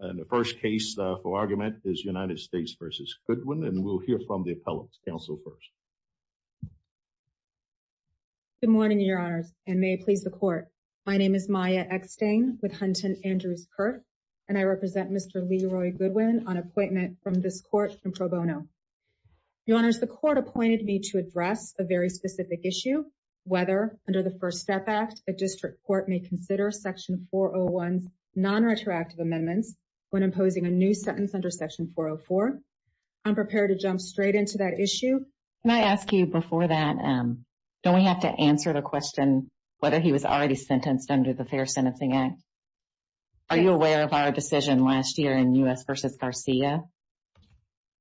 The first case for argument is United States v. Goodwin, and we'll hear from the appellant, counsel first. Good morning, Your Honors, and may it please the Court. My name is Maya Eckstein with Hunton Andrews-Kurt, and I represent Mr. Leroy Goodwin on appointment from this Court in pro bono. Your Honors, the Court appointed me to address a very specific issue, whether under the First Step Act, a district court may consider Section 401's non-retroactive amendments when imposing a new sentence under Section 404. I'm prepared to jump straight into that issue. Can I ask you before that, don't we have to answer the question whether he was already sentenced under the Fair Sentencing Act? Are you aware of our decision last year in U.S. v. Garcia?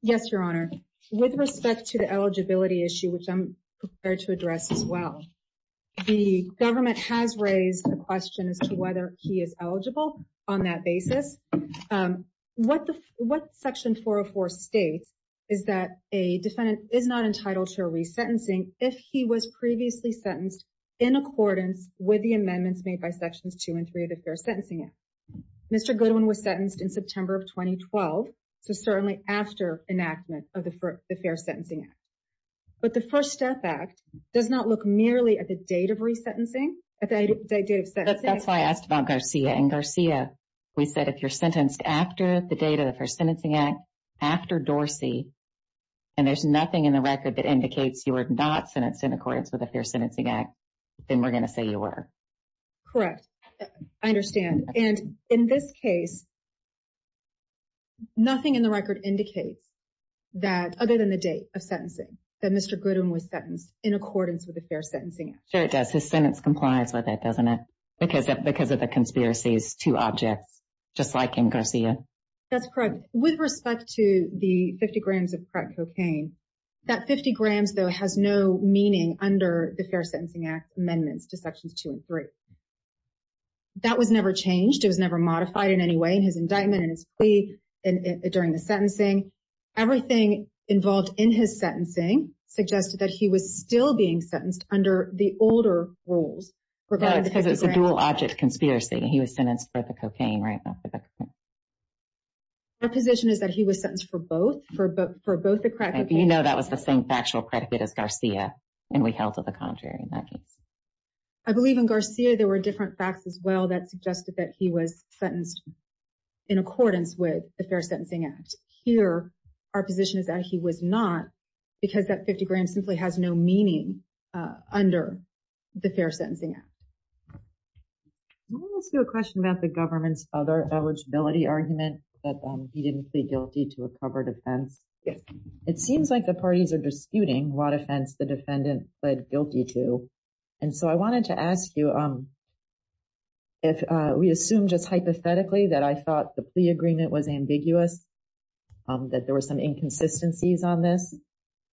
Yes, Your Honor. With respect to the eligibility issue, which I'm prepared to address as well, the court government has raised the question as to whether he is eligible on that basis. What Section 404 states is that a defendant is not entitled to a resentencing if he was previously sentenced in accordance with the amendments made by Sections 2 and 3 of the Fair Sentencing Act. Mr. Goodwin was sentenced in September of 2012, so certainly after enactment of the Fair Sentencing Act. But the First Step Act does not look merely at the date of resentencing, the date of sentencing. That's why I asked about Garcia, and Garcia, we said if you're sentenced after the date of the Fair Sentencing Act, after Dorsey, and there's nothing in the record that indicates you were not sentenced in accordance with the Fair Sentencing Act, then we're going to say you were. Correct. I understand. And in this case, nothing in the record indicates that, other than the date of sentencing, that Mr. Goodwin was sentenced in accordance with the Fair Sentencing Act. Sure, it does. His sentence complies with it, doesn't it, because of the conspiracies to objects, just like in Garcia? That's correct. With respect to the 50 grams of crack cocaine, that 50 grams, though, has no meaning under the Fair Sentencing Act amendments to Sections 2 and 3. That was never changed. It was never modified in any way in his indictment and his plea during the sentencing. Everything involved in his sentencing suggested that he was still being sentenced under the older rules regarding the 50 grams. Oh, it's because it's a dual-object conspiracy, and he was sentenced for the cocaine, right? Our position is that he was sentenced for both, for both the crack cocaine. You know that was the same factual predicate as Garcia, and we held to the contrary in that case. I believe in Garcia, there were different facts as well that suggested that he was sentenced in accordance with the Fair Sentencing Act. Here, our position is that he was not, because that 50 grams simply has no meaning under the Fair Sentencing Act. I want to ask you a question about the government's other eligibility argument, that he didn't plead guilty to a covered offense. It seems like the parties are disputing what offense the defendant pled guilty to, and so I wanted to ask you, if we assume just hypothetically that I thought the plea agreement was ambiguous, that there were some inconsistencies on this,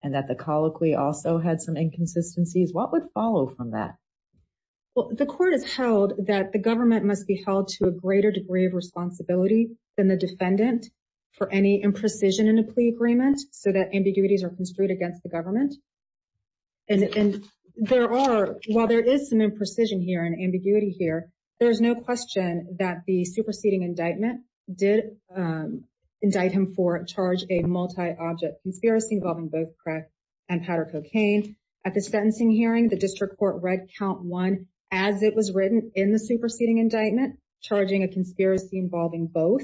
and that the colloquy also had some inconsistencies, what would follow from that? The court has held that the government must be held to a greater degree of responsibility than the defendant for any imprecision in a plea agreement, so that ambiguities are construed against the government, and there are, while there is some imprecision here and ambiguity here, there is no question that the superseding indictment did indict him for charge a multi-object conspiracy involving both crack and powder cocaine. At the sentencing hearing, the district court read count one as it was written in the superseding indictment, charging a conspiracy involving both.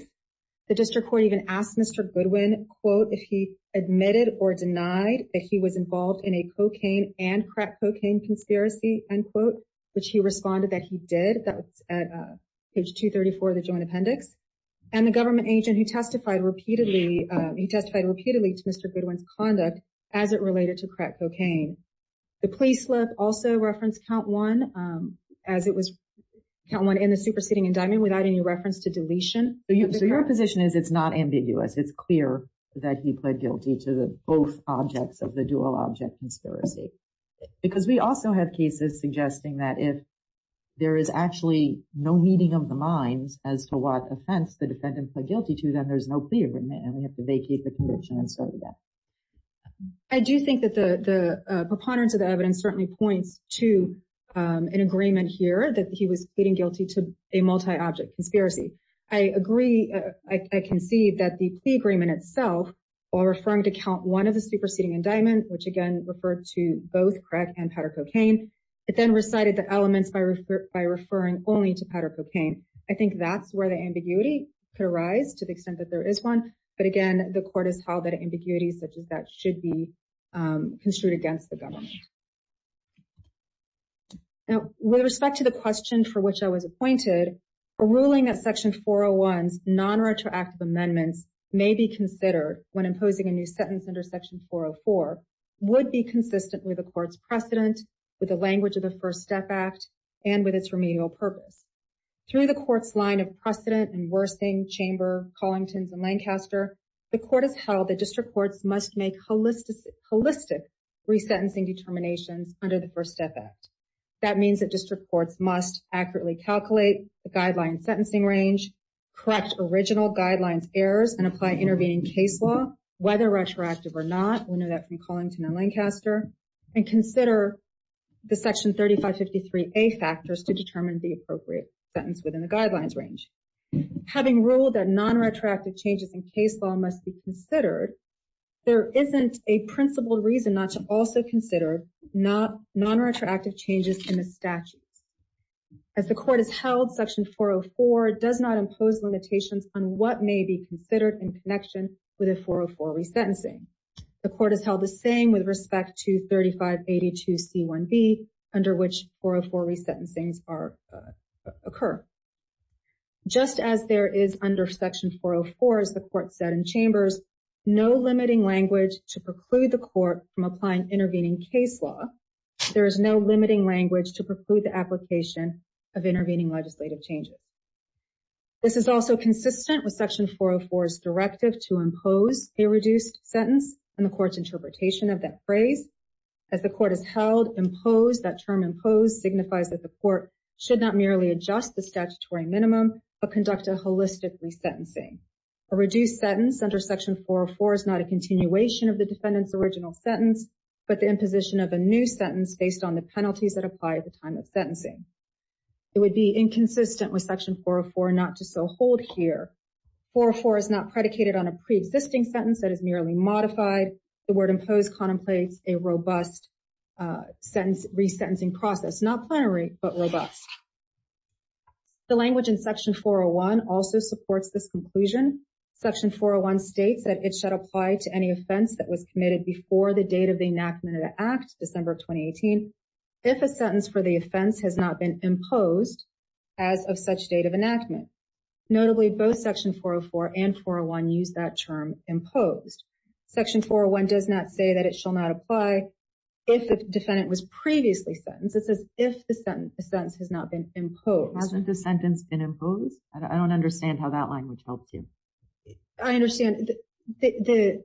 The district court even asked Mr. Goodwin, quote, if he admitted or denied that he was involved in a cocaine and crack cocaine conspiracy, end quote, which he responded that he did, that was at page 234 of the joint appendix, and the government agent who testified repeatedly, he testified repeatedly to Mr. Goodwin's conduct as it related to crack cocaine. The plea slip also referenced count one as it was count one in the superseding indictment without any reference to deletion. So your position is it's not ambiguous, it's clear that he pled guilty to the both objects of the dual object conspiracy, because we also have cases suggesting that if there is actually no meeting of the minds as to what offense the defendant pled guilty to, then there's no plea agreement, and we have to vacate the conviction and start again. I do think that the preponderance of the evidence certainly points to an agreement here that he was pleading guilty to a multi-object conspiracy. I agree, I can see that the plea agreement itself, while referring to count one of the superseding indictment, which again referred to both crack and powder cocaine, it then recited the elements by referring only to powder cocaine. I think that's where the ambiguity could arise to the extent that there is one, but again, the court has held that ambiguity such as that should be construed against the government. Now, with respect to the question for which I was appointed, a ruling that Section 401's nonretroactive amendments may be considered when imposing a new sentence under Section 404 would be consistent with the court's precedent, with the language of the First Step Act, and with its remedial purpose. Through the court's line of precedent and worsening, Chamber, Collingtons, and Lancaster, the court has held that district courts must make holistic resentencing determinations under the First Step Act. That means that district courts must accurately calculate the guideline sentencing range, correct original guidelines errors, and apply intervening case law, whether retroactive or not, we know that from Collington and Lancaster, and consider the Section 3553A factors to sentence within the guidelines range. Having ruled that nonretroactive changes in case law must be considered, there isn't a principled reason not to also consider nonretroactive changes in the statutes. As the court has held, Section 404 does not impose limitations on what may be considered in connection with a 404 resentencing. The court has held the same with respect to 3582C1B, under which 404 resentencings occur. Just as there is under Section 404, as the court said in Chambers, no limiting language to preclude the court from applying intervening case law, there is no limiting language to preclude the application of intervening legislative changes. This is also consistent with Section 404's directive to impose a reduced sentence, and the court's interpretation of that phrase. As the court has held, impose, that term impose signifies that the court should not merely adjust the statutory minimum, but conduct a holistic resentencing. A reduced sentence under Section 404 is not a continuation of the defendant's original sentence, but the imposition of a new sentence based on the penalties that apply at the time of sentencing. It would be inconsistent with Section 404 not to so hold here. 404 is not predicated on a pre-existing sentence that is merely modified. The word impose contemplates a robust resentencing process, not plenary, but robust. The language in Section 401 also supports this conclusion. Section 401 states that it should apply to any offense that was committed before the date of the enactment of the Act, December of 2018, if a sentence for the offense has not been imposed as of such date of enactment. Notably, both Section 404 and 401 use that term imposed. Section 401 does not say that it shall not apply if the defendant was previously sentenced. It says if the sentence has not been imposed. Hasn't the sentence been imposed? I don't understand how that language helps you. I understand the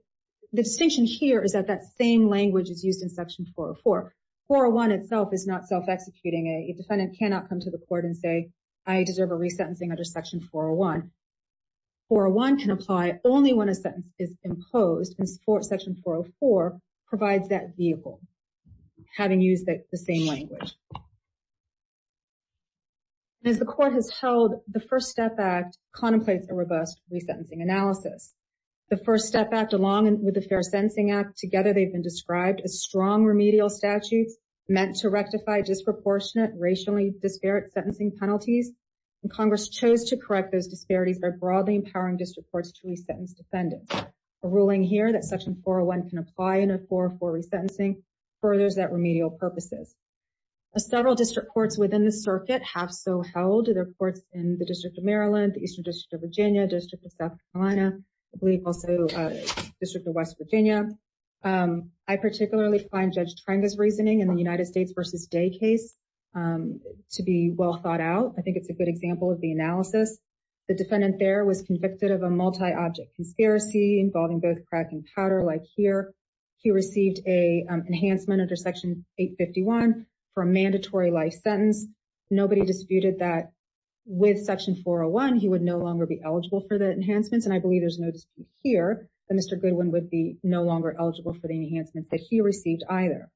distinction here is that that same language is used in Section 404. 401 itself is not self-executing. A defendant cannot come to the court and say, I deserve a resentencing under Section 401. 401 can apply only when a sentence is imposed, and Section 404 provides that vehicle, having used the same language. And as the court has held, the First Step Act contemplates a robust resentencing analysis. The First Step Act, along with the Fair Sentencing Act, together they've been described as strong remedial statutes meant to rectify disproportionate racially disparate sentencing penalties. Congress chose to correct those disparities by broadly empowering district courts to resentence defendants. A ruling here that Section 401 can apply in a 404 resentencing furthers that remedial purposes. As several district courts within the circuit have so held, there are courts in the District of Maryland, the Eastern District of Virginia, District of South Carolina, I believe also District of West Virginia. I particularly find Judge Trenga's reasoning in the United States v. Day case to be well thought out. I think it's a good example of the analysis. The defendant there was convicted of a multi-object conspiracy involving both crack and powder like here. He received an enhancement under Section 851 for a mandatory life sentence. Nobody disputed that with Section 401, he would no longer be eligible for the enhancements. And I believe there's no dispute here that Mr. Goodwin would be no longer eligible for the enhancement that he received either.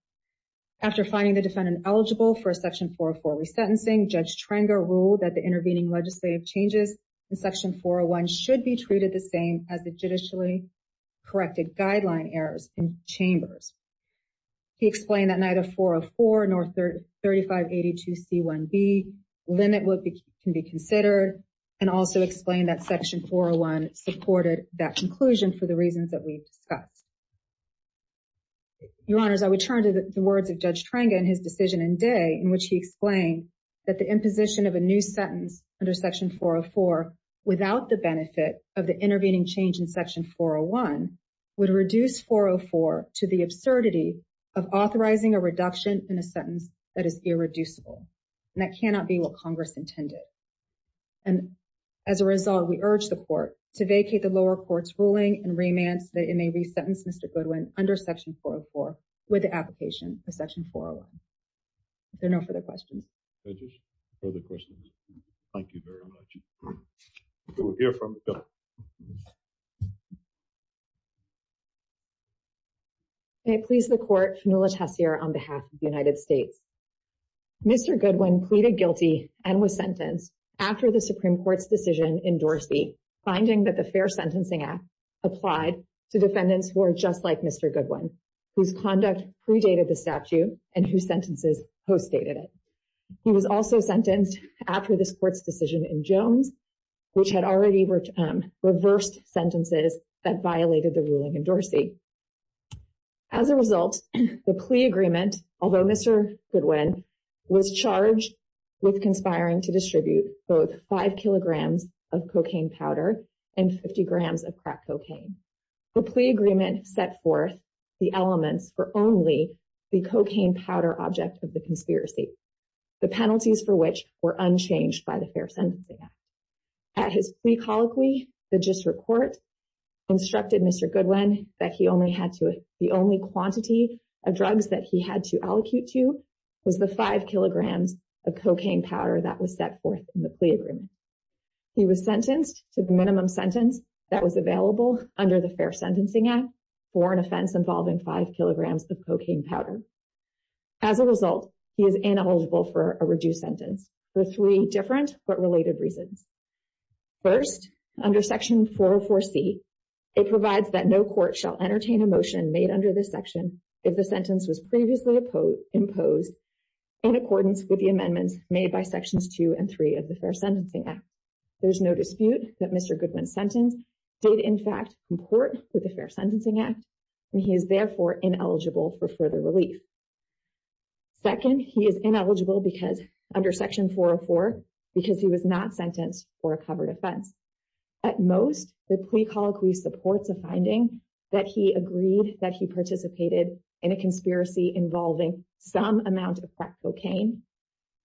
After finding the defendant eligible for a Section 404 resentencing, Judge Trenga ruled that the intervening legislative changes in Section 401 should be treated the same as the judicially corrected guideline errors in Chambers. He explained that neither 404 nor 3582C1B limit what can be considered and also explained that Section 401 supported that conclusion for the reasons that we've discussed. Your Honors, I would turn to the words of Judge Trenga and his decision in Day in which he explained that the imposition of a new sentence under Section 404 without the benefit of the intervening change in Section 401 would reduce 404 to the absurdity of authorizing a reduction in a sentence that is irreducible and that cannot be what Congress intended. And as a result, we urge the court to vacate the lower court's ruling and remand so that it may resentence Mr. Goodwin under Section 404 with the application for Section 401. Are there no further questions? Further questions? Thank you very much. We will hear from the Court. May it please the Court, Fanula Tessier on behalf of the United States. Mr. Goodwin pleaded guilty and was sentenced after the Supreme Court's decision in Dorsey finding that the Fair Sentencing Act applied to defendants who are just like Mr. Goodwin, whose conduct predated the statute and whose sentences postdated it. He was also sentenced after this Court's decision in Jones, which had already reversed sentences that violated the ruling in Dorsey. As a result, the plea agreement, although Mr. Goodwin was charged with conspiring to distribute both 5 kilograms of cocaine powder and 50 grams of crack cocaine. The plea agreement set forth the elements for only the cocaine powder object of the conspiracy, the penalties for which were unchanged by the Fair Sentencing Act. At his plea colloquy, the GIST report instructed Mr. Goodwin that the only quantity of drugs that he had to allocute to was the 5 kilograms of cocaine powder that was set forth in the plea agreement. He was sentenced to the minimum sentence that was available under the Fair Sentencing Act for an offense involving 5 kilograms of cocaine powder. As a result, he is ineligible for a reduced sentence for three different but related reasons. First, under Section 404C, it provides that no court shall entertain a motion made under this section if the sentence was previously imposed in accordance with the amendments made by Sections 2 and 3 of the Fair Sentencing Act. There is no dispute that Mr. Goodwin's sentence did in fact comport with the Fair Sentencing Act and he is therefore ineligible for further relief. Second, he is ineligible under Section 404 because he was not sentenced for a covered offense. At most, the plea colloquy supports a finding that he agreed that he participated in a conspiracy involving some amount of crack cocaine.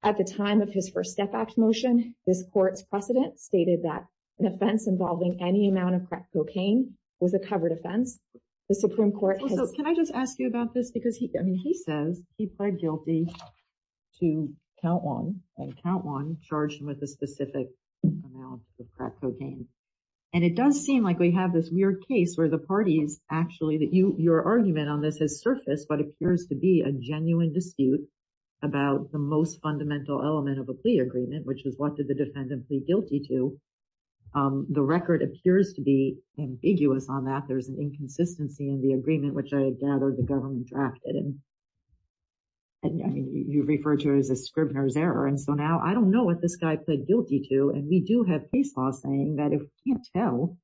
At the time of his First Step Act motion, this court's precedent stated that an offense involving any amount of crack cocaine was a covered offense. The Supreme Court has... Can I just ask you about this? Because he says he pled guilty to count one and count one charged with a specific amount of crack cocaine. And it does seem like we have this weird case where the parties actually that your argument on this has surfaced what appears to be a genuine dispute about the most fundamental element of a plea agreement, which is what did the defendant plead guilty to. The record appears to be ambiguous on that. There's an inconsistency in the agreement which I had gathered the government drafted. And you refer to it as a Scribner's error. And so now I don't know what this guy pled guilty to. And we do have case law saying that if we can't tell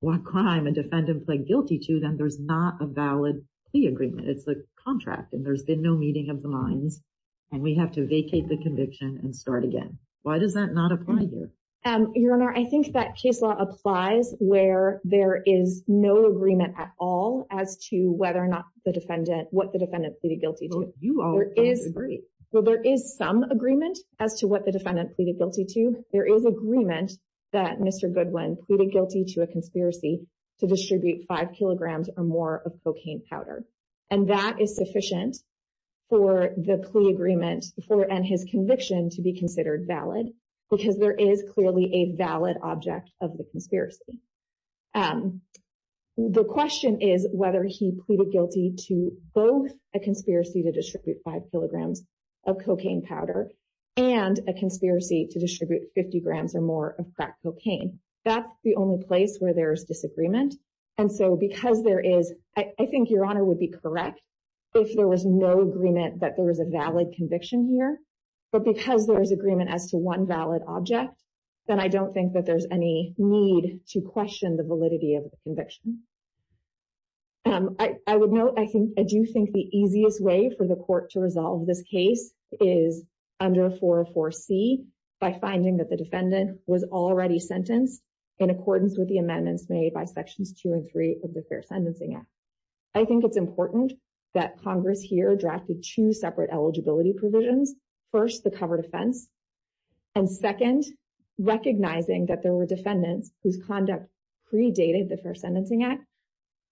what crime a defendant pled guilty to, then there's not a valid plea agreement. It's a contract. And there's been no meeting of the minds. And we have to vacate the conviction and start again. Why does that not apply here? Your Honor, I think that case law applies where there is no agreement at all as to whether or not the defendant, what the defendant pleaded guilty to. Well, you all don't agree. Well, there is some agreement as to what the defendant pleaded guilty to. There is agreement that Mr. Goodwin pleaded guilty to a conspiracy to distribute five kilograms or more of cocaine powder. And that is sufficient for the plea agreement and his conviction to be considered valid because there is clearly a valid object of the conspiracy. The question is whether he pleaded guilty to both a conspiracy to distribute five kilograms of cocaine powder and a conspiracy to distribute 50 grams or more of crack cocaine. That's the only place where there's disagreement. And so because there is, I think Your Honor would be correct if there was no agreement that there was a valid conviction here. But because there is agreement as to one valid object, then I don't think that there's any need to question the validity of the conviction. I would note, I do think the easiest way for the court to resolve this case is under 404C, by finding that the defendant was already sentenced in accordance with the amendments made by Sections 2 and 3 of the Fair Sentencing Act. I think it's important that Congress here drafted two separate eligibility provisions. First, the covered offense. And second, recognizing that there were defendants whose conduct predated the Fair Sentencing Act,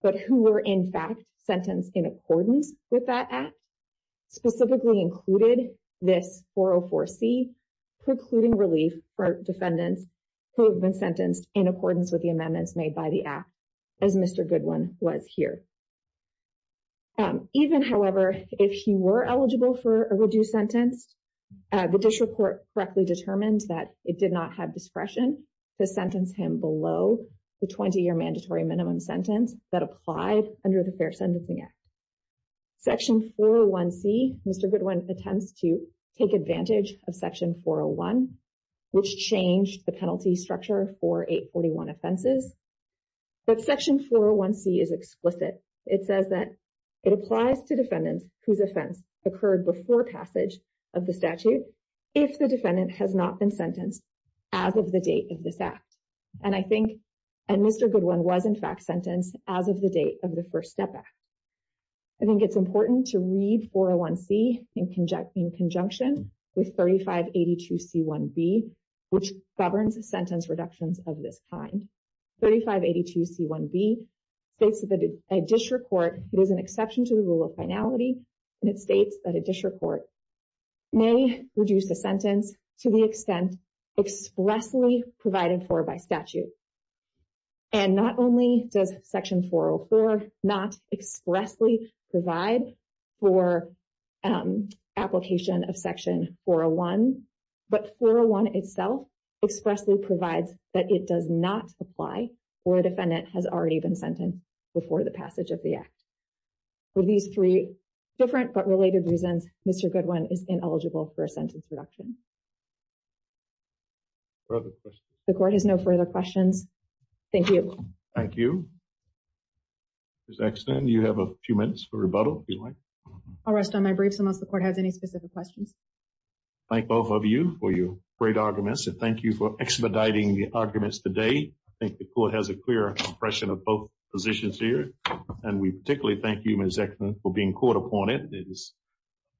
but who were in fact sentenced in accordance with that Act, specifically included this 404C precluding relief for defendants who have been sentenced in accordance with the amendments made by the Act, as Mr. Goodwin was here. Even, however, if he were eligible for a reduced sentence, the district court correctly determined that it did not have discretion to sentence him below the 20-year mandatory minimum sentence that applied under the Fair Sentencing Act. Section 401C, Mr. Goodwin attempts to take advantage of Section 401, which changed the penalty structure for 841 offenses. But Section 401C is explicit. It says that it applies to defendants whose offense occurred before passage of the statute, if the defendant has not been sentenced as of the date of this Act. And I think Mr. Goodwin was in fact sentenced as of the date of the First Step Act. I think it's important to read 401C in conjunction with 3582C1B, which governs sentence reductions of this kind. 3582C1B states that a district court, it is an exception to the rule of finality, and it states that a district court may reduce the sentence to the extent expressly provided for by statute. And not only does Section 404 not expressly provide for application of Section 401, but 401 itself expressly provides that it does not apply for a defendant has already been sentenced before the passage of the Act. For these three different but related reasons, Mr. Goodwin is ineligible for a sentence reduction. Further questions? The court has no further questions. Thank you. Thank you. Ms. Exton, you have a few minutes for rebuttal, if you like. I'll rest on my briefs unless the court has any specific questions. Thank both of you for your great arguments. And thank you for expediting the arguments today. I think the court has a clear impression of both positions here. And we particularly thank you, Ms. Exton, for being caught up on it. It is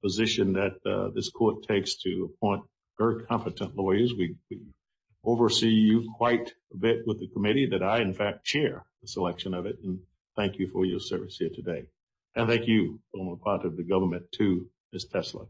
a position that this court takes to appoint very competent lawyers. We oversee you quite a bit with the committee that I, in fact, chair the selection of it. And thank you for your service here today. And thank you on behalf of the government, too, Ms. Tesler.